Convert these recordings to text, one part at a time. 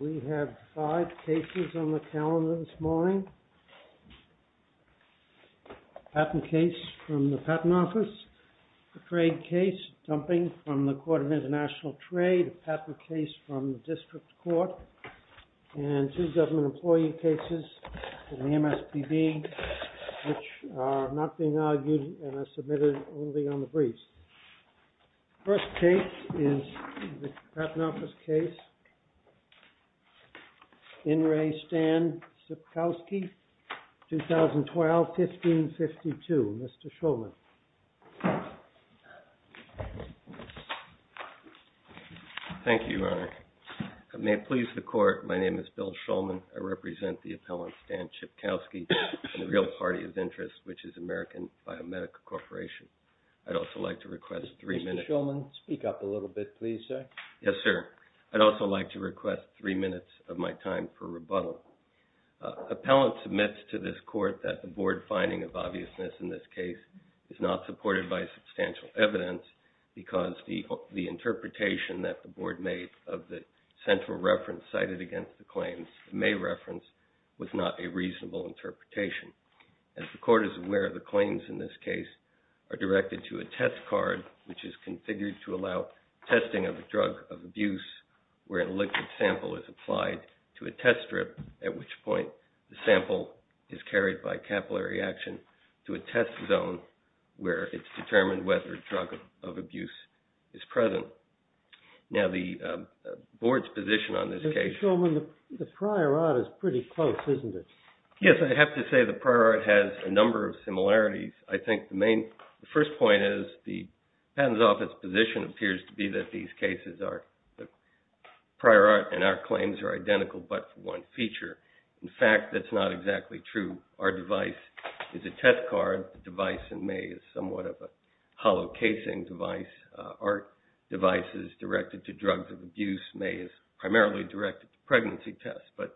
We have five cases on the calendar this morning. A patent case from the Patent Office, a trade case dumping from the Court of International Trade, a patent case from the District Court, and two government employee cases from the MSPB, which are not being argued and are submitted only on the briefs. The first case is the Patent Office case. In Re Stan Cipkowski, 2012, 1552. Mr. Shulman. Thank you, Your Honor. May it please the Court, my name is Bill Shulman. I represent the appellant Stan Cipkowski and the real party of interest, which is American Biomedical Corporation. I'd also like to request three minutes... Mr. Shulman, speak up a little bit, please, sir. Yes, sir. I'd also like to request three minutes of my time for rebuttal. Appellant submits to this Court that the Board finding of obviousness in this case is not supported by substantial evidence because the interpretation that the Board made of the central reference cited against the claims, the May reference, was not a reasonable interpretation. As the Court is aware, the claims in this case are directed to a test card, which is configured to allow testing of a drug of abuse where a liquid sample is applied to a test strip, at which point the sample is carried by capillary action to a test zone where it's determined whether a drug of abuse is present. Now, the Board's position on this case... Mr. Shulman, the prior art is pretty close, isn't it? Yes, I have to say the prior art has a number of similarities. I think the first point is the Patent's Office position appears to be that these cases are prior art and our claims are identical but for one feature. In fact, that's not exactly true. Our device is a test card. The device in May is somewhat of a hollow casing device. Our device is directed to drugs of abuse. May is primarily directed to pregnancy tests. But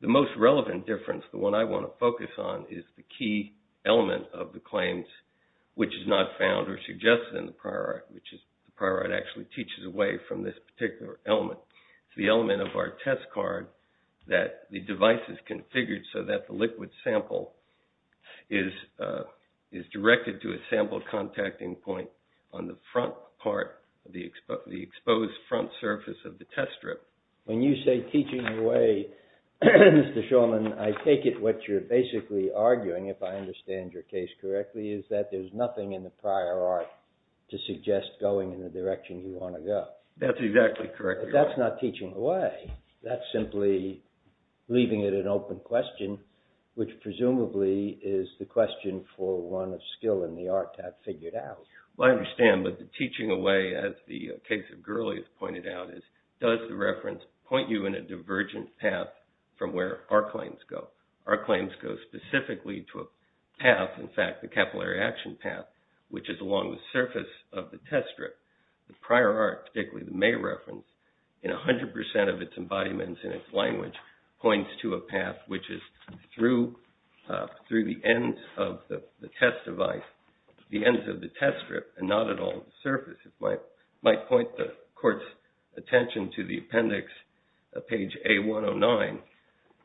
the most relevant difference, the one I want to focus on, is the key element of the claims, which is not found or suggested in the prior art, which is the prior art actually teaches away from this particular element. It's the element of our test card that the device is configured so that the liquid sample is directed to a sample contacting point on the front part, the exposed front surface of the test strip. When you say teaching away, Mr. Shulman, I take it what you're basically arguing, if I understand your case correctly, is that there's nothing in the prior art to suggest going in the direction you want to go. That's exactly correct. But that's not teaching away. That's simply leaving it an open question, which presumably is the question for one of skill in the art to have figured out. I understand, but the teaching away, as the case of Gurley has pointed out, does the reference point you in a divergent path from where our claims go? Our claims go specifically to a path, in fact, the capillary action path, which is along the surface of the test strip. The prior art, particularly the May reference, in 100 percent of its embodiments in its language points to a path which is through the ends of the test device, the ends of the test strip, and not at all the surface. It might point the court's attention to the appendix, page A109.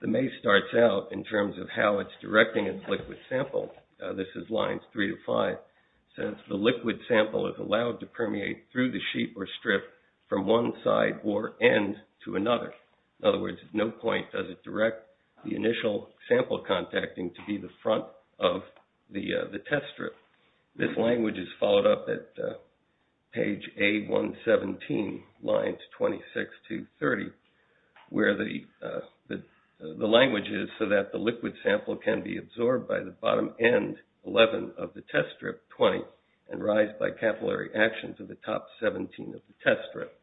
The May starts out in terms of how it's directing its liquid sample. This is lines three to five. It says, the liquid sample is allowed to permeate through the sheet or strip from one side or end to another. In other words, at no point does it direct the initial sample contacting to be the front of the test strip. This language is followed up at page A117, lines 26 to 30, where the language is so that the liquid sample can be absorbed by the bottom end, 11, of the test strip, 20, and rise by capillary action to the top 17 of the test strip.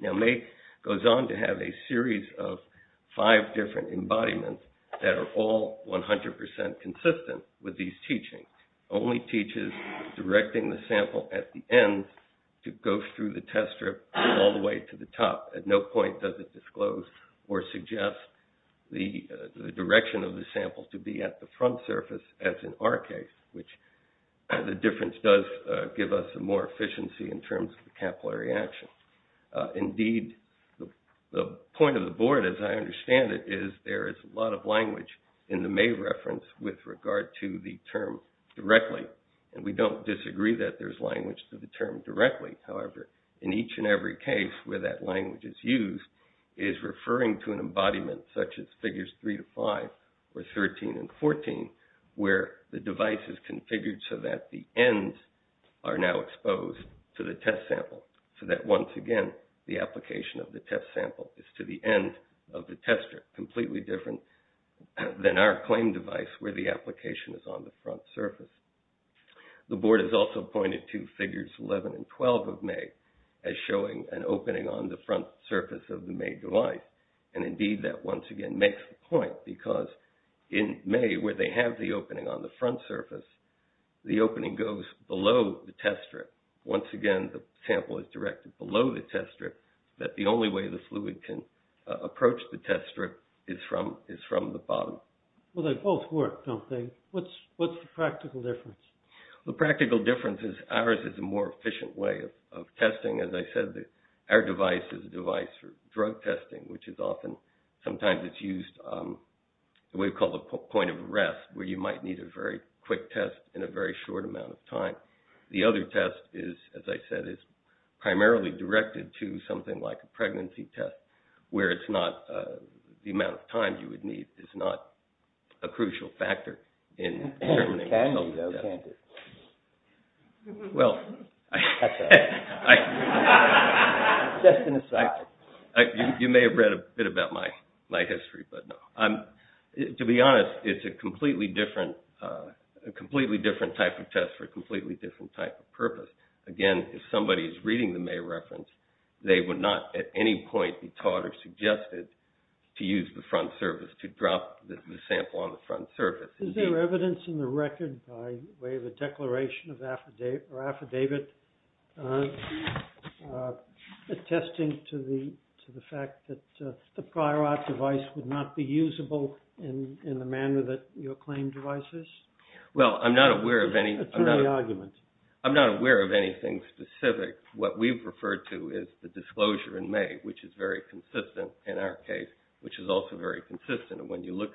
Now May goes on to have a series of five different embodiments that are all 100 percent consistent with these teachings. Only teaches directing the sample at the ends to go through the test strip all the way to the top. This does not disclose or suggest the direction of the sample to be at the front surface, as in our case, which the difference does give us some more efficiency in terms of the capillary action. Indeed, the point of the board, as I understand it, is there is a lot of language in the May reference with regard to the term directly. We don't disagree that there's language to the term directly. However, in each and every case where that language is used is referring to an embodiment such as figures three to five, or 13 and 14, where the device is configured so that the ends are now exposed to the test sample so that, once again, the application of the test sample is to the end of the test strip, completely different than our claim device where the application is on the front surface. The board has also pointed to figures 11 and 12 of May as showing an opening on the front surface of the May device. Indeed, that once again makes the point because in May, where they have the opening on the front surface, the opening goes below the test strip. Once again, the sample is directed below the test strip, that the only way the fluid can approach the test strip is from the bottom. Well, they both work, don't they? What's the practical difference? Ours is a more efficient way of testing. As I said, our device is a device for drug testing, which is often, sometimes it's used in a way called a point of arrest where you might need a very quick test in a very short amount of time. The other test is, as I said, is primarily directed to something like a pregnancy test where it's not, the amount of time you would need is not a crucial factor in determining the health of the test. Can you though, can't it? Well... That's all. Just an aside. You may have read a bit about my history, but no. To be honest, it's a completely different type of test for a completely different type of purpose. Again, if somebody is reading the May reference, they would not at any point be taught or suggested to use the front surface to drop the sample on the front surface. Is there evidence in the record by way of a declaration or affidavit attesting to the fact that the Pryor device would not be usable in the manner that your claim device is? Well, I'm not aware of any... Attorney argument. I'm not aware of anything specific. What we've referred to is the disclosure in May, which is very consistent in our case, which is also very consistent in our case.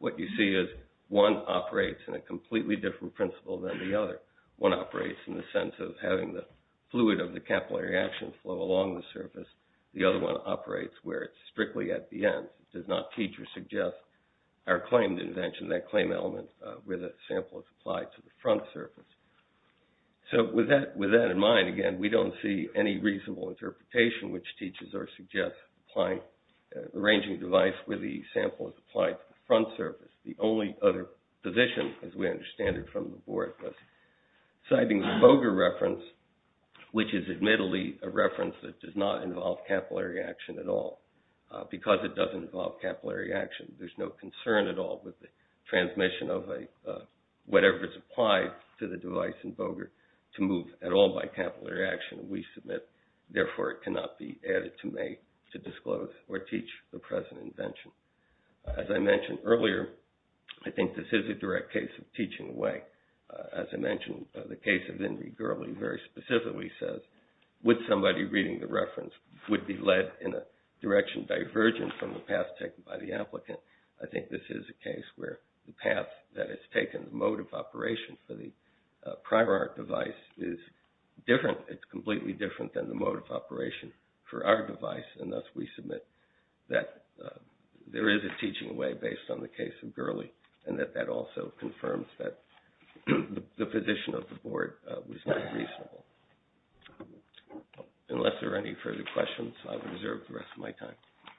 What you see is one operates in a completely different principle than the other. One operates in the sense of having the fluid of the capillary action flow along the surface. The other one operates where it's strictly at the end. It does not teach or suggest our claim invention, that claim element where the sample is applied to the front surface. So with that in mind, again, we don't see any reasonable interpretation which teaches or suggests arranging a device where the sample is applied to the front surface. The only other position, as we understand it from the board, was citing the Boger reference, which is admittedly a reference that does not involve capillary action at all because it doesn't involve capillary action. There's no concern at all with the transmission of whatever is applied to the device in Boger to move at all by capillary action we submit. Therefore, it cannot be added to make to disclose or teach the present invention. As I mentioned earlier, I think this is a direct case of teaching away. As I mentioned, the case of Ingrid Gurley very specifically says would somebody reading the reference would be led in a direction divergent from the path taken by the applicant. I think this is a case where the path that is taken, the mode of operation for the primary device is different. It's completely different than the mode of operation for our device and thus we submit that there is a teaching away based on the case of Gurley and that that also confirms that the position of the board was not reasonable. Unless there are any further questions, I will reserve the rest of my time.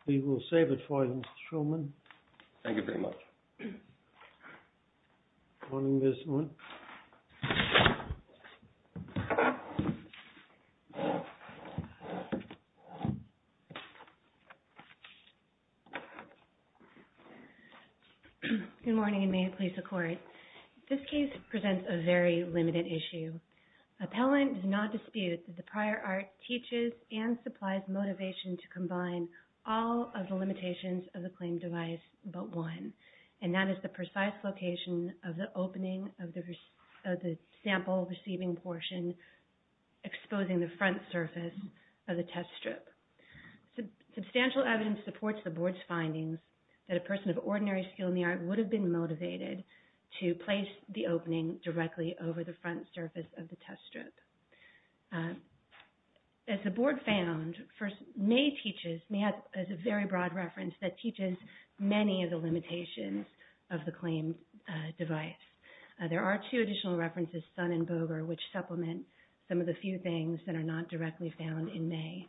We will save it for you Mr. Shulman. Thank you very much. Good morning Mr. Shulman. Good morning. Good morning and may it please the court. This case presents a very limited issue. Appellant does not dispute that the prior art teaches and supplies motivation to combine all of the limitations of the claimed device but one and that is the precise location of the opening of the sample receiving portion exposing the front surface of the test strip. Substantial evidence supports the board's findings that a person of ordinary skill in the art would have been motivated to place the opening directly over the front surface of the test strip. As the board found, May teaches, May has a very broad reference that teaches many of the limitations of the claimed device. There are two additional references, Sun and Boger, which supplement some of the few things that are not directly found in May.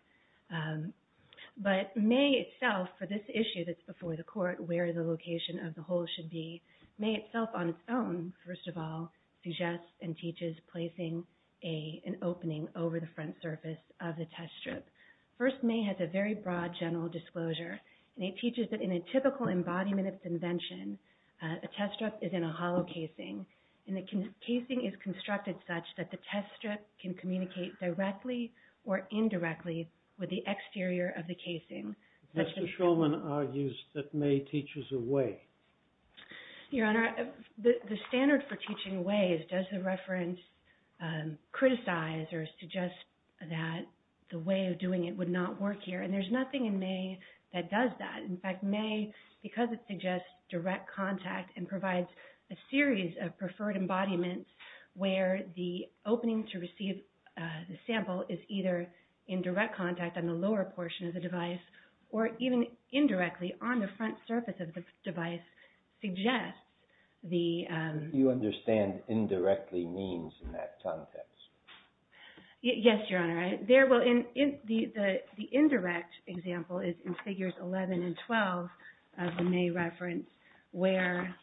But May itself for this issue that's before the court where the location of the hole should be, May itself on its own first of all suggests and teaches placing an opening over the front surface of the test strip. First, May has a very broad general disclosure and it teaches that in a typical embodiment of convention, a test strip is in a hollow casing and the casing is constructed such that the test strip can communicate directly or indirectly with the exterior of the casing. Mr. Shulman argues that May teaches a way. Your Honor, the standard for teaching a way is does the reference criticize or suggest that the way of doing it would not work here and there's nothing in May that does that. In fact, May, because it suggests direct contact and provides a series of preferred embodiments where the opening to receive the sample is either in direct contact on the lower portion of the device or even indirectly on the front surface of the device suggests the... Do you understand indirectly means in that context? Yes, Your Honor. The indirect example is in figures 11 and 12 of the May reference where...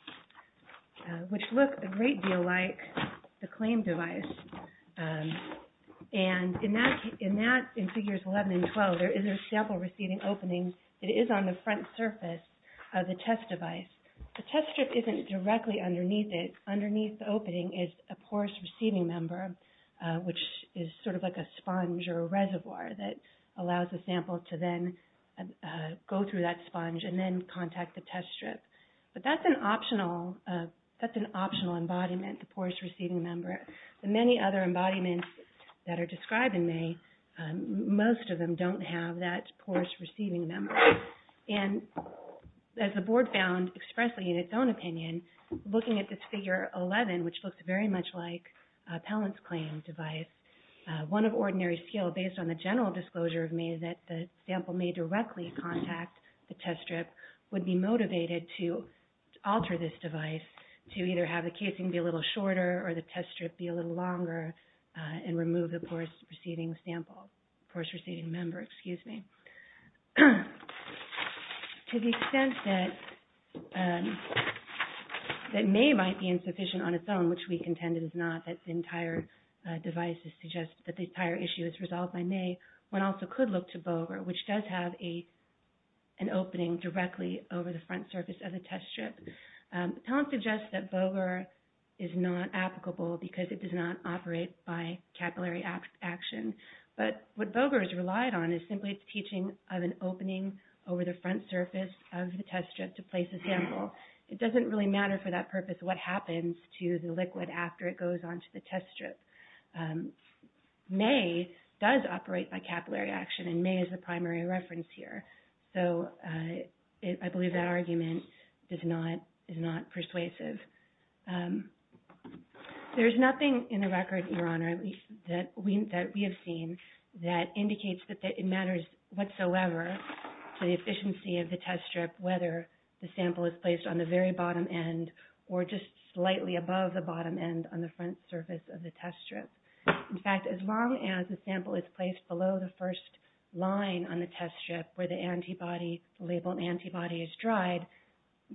which look a great deal like the claim device and in that in figures 11 and 12 there is a sample receiving opening that is on the front surface of the test device. The test strip isn't directly underneath it. Underneath the opening is a porous receiving member which is sort of like a sponge or a reservoir that allows the sample to then go through that sponge and then contact the test strip. But that's an optional that's an optional embodiment the porous receiving member. The many other embodiments that are described in May most of them don't have that porous receiving member. And as the Board found expressly in its own opinion looking at this figure 11 which looks very much like appellant's claim device one of ordinary scale based on the general disclosure of May that the sample may directly contact the test strip would be motivated to alter this device to either have the casing be a little shorter or the test strip be a little longer and remove the porous receiving sample porous receiving member excuse me. To the extent that that May might be insufficient on its own which we contend it is not that the entire device is suggested that the entire issue is resolved by May one also could look to Boger which does have an opening directly over the front surface of the test strip. Talent suggests that Boger is not applicable because it does not operate by capillary action but what Boger has relied on is simply its teaching of an opening over the front surface of the test strip to place a sample. It doesn't really matter for that purpose what happens to the liquid after it goes onto the test strip. May does operate by capillary action and May is the primary reference here. So I believe that argument is not persuasive. There is nothing in the record Your Honor that we have seen that indicates that it matters whatsoever to the efficiency of the test strip whether the sample is placed on the very bottom end or just slightly above the bottom end on the front surface of the test strip. In fact, as long as the sample is placed below the first line on the test strip where the antibody labeled antibody is dried,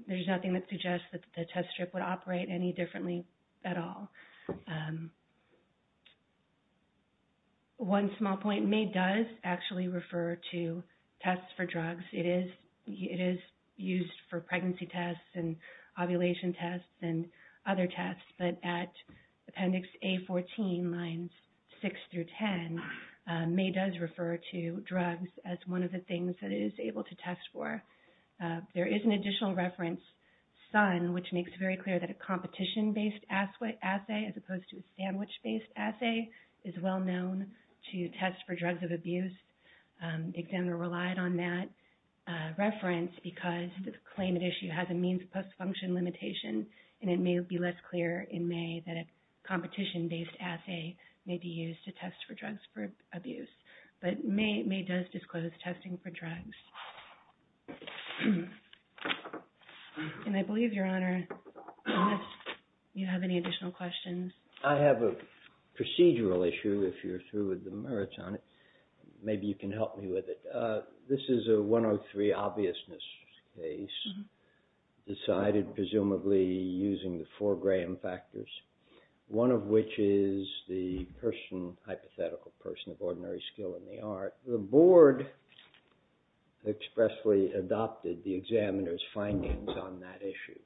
there is nothing that suggests that the test strip would operate any differently at all. One small point, May does actually tests for drugs. It is used for pregnancy tests and ovulation tests and other tests but at appendix A14 lines 6 through 10 it is referred to as a drug test and May does refer to drugs as one of the that it is able to test for. There is an additional reference, Sun, which makes very clear that a competition based assay as opposed to a sandwich based assay is well known to test for drugs of abuse. The examiner relied on that reference because the claimant issue has a means post function limitation and it may be less clear in May that a competition based assay may be used to test for drugs for abuse. But May does disclose testing for drugs. And I believe, Your Honor, unless you have any additional questions. I have a procedural issue if you're through with the merits on it. Maybe you can help me with it. This is a 103 obviousness case decided presumably using the four Graham factors, one of which is the hypothetical person of ordinary skill in the art. The board expressly adopted the examiner's findings on that issue.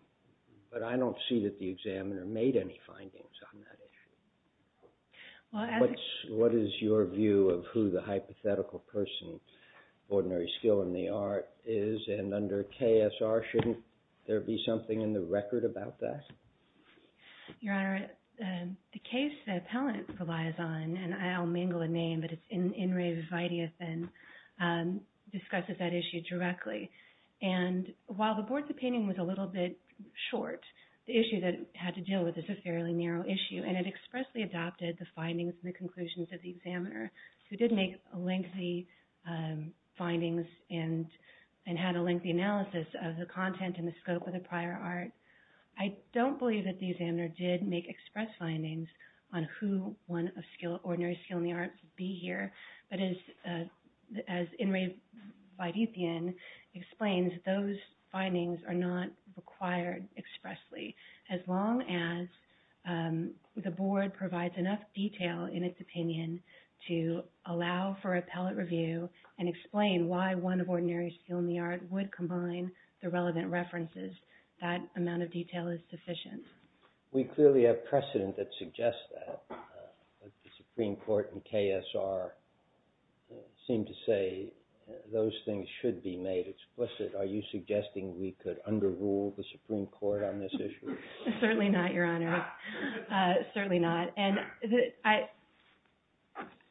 But I don't see that the examiner made any findings on that issue. What is your view of who the hypothetical person ordinary skill in the art is and under KSR shouldn't there be something in the record about that? Your Honor, the case the appellant relies on, and I'll mingle the name, but it's Enrique Vidiathan discusses that issue directly. And while the board's opinion was a little bit short, the issue that it had to deal with is a fairly narrow issue. And it expressly adopted the findings and conclusions of the examiner who did make lengthy findings and had a lengthy analysis of the content and the scope of the prior art. I don't believe that the examiner did make express findings on who one of ordinary skill in the art would be here. But as Enrique Vidiathan explains, those findings are not required expressly. As long as the board provides enough detail in its opinion to allow for appellate review and explain why one of ordinary skill in the art would combine the relevant references, that amount of detail is sufficient. We clearly have precedent that suggests that. The Supreme Court and KSR seem to say those things should be made explicit. Are you suggesting we could under rule the Supreme Court on this issue? Certainly not, Your Honor. Certainly not. And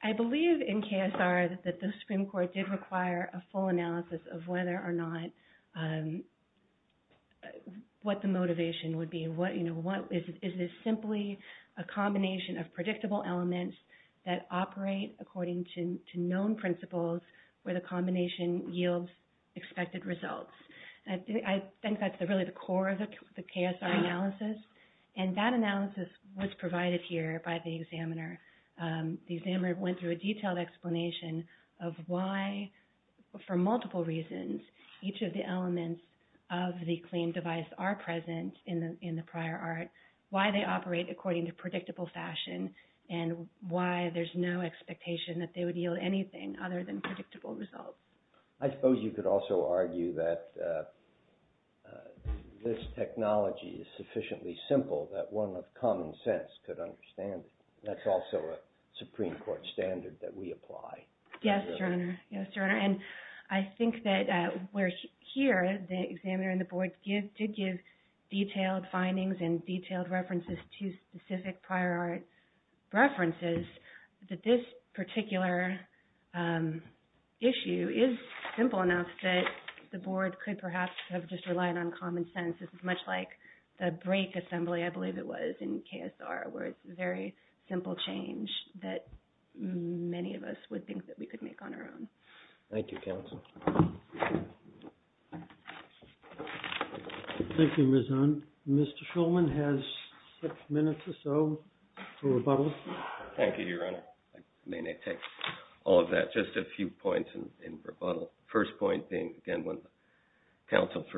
I believe in KSR that the Supreme Court did require a full analysis of whether or not what the motivation would be. Is this simply a combination of predictable elements that operate according to known principles where the combination yields expected results? I think that's really the core of the KSR analysis and that analysis was provided here by the examiner. The examiner went through a detailed explanation of why for multiple reasons each of the claim device are present in the prior art, why they operate according to predictable fashion and why there's no expectation that they would yield anything other than predictable results. I suppose you could also argue that this technology is sufficiently simple that one of common sense could understand it. That's also a Supreme Court decision. The examiner and the board did give detailed findings and detailed references to specific prior art references that this particular issue is simple enough that the board could perhaps have just relied on common sense. This is much like the break assembly I believe it was in KSR where it's a very simple change that many of us would think we could make on our own. Thank you Thank you Ms. Hunn. Mr. Shulman minutes or so for rebuttal. Thank you Your Honor. I may not take all of that. Just a few points in rebuttal. First point being again when the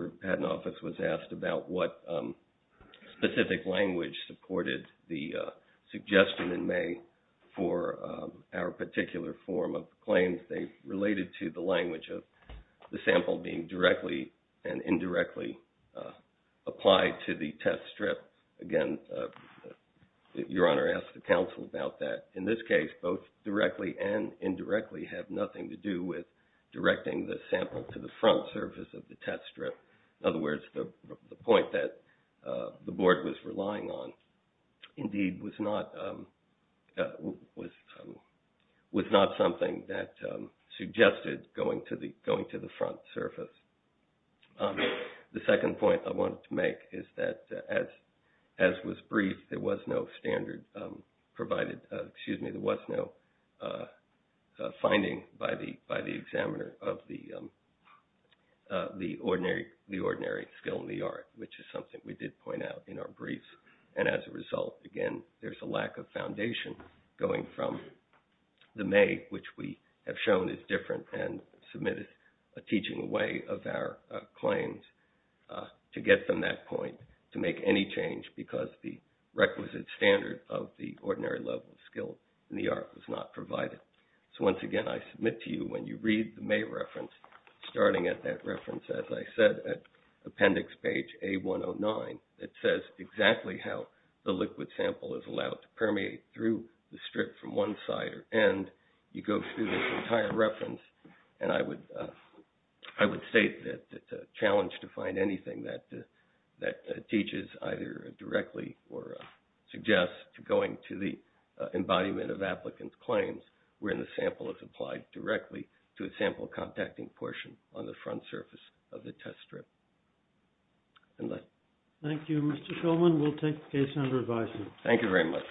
specific language supported the suggestion in May for our particular form of claims they related to the language of the sample being directly and indirectly applied to the test strip. Again, Your Honor asked the counsel about that. In this case both directly and indirectly have nothing to do with standard that the board was relying on. Indeed, was not something that suggested going to the front surface. The second point I wanted to make is that as was brief there was no standard provided excuse me there was no finding by the examiner of the ordinary skill in the art which is something we did point out in our brief and as a result again there is a lack of foundation going from the May which we have shown is different and submitted a teaching way of our claims to get them that point to make any change because the requisite standard of the ordinary skill in the art was not provided. I submit to you when you read the May reference starting at appendix page A109 it says exactly how the liquid sample is allowed to permeate through the strip from one side or end you go through the entire reference and I would state that it's a challenge to find anything that teaches either directly or suggests going to the embodiment of applicant claims where the sample is applied directly to a sample contacting portion on the front surface of the test strip. Thank you. Mr. Coleman we'll take the case under advisement.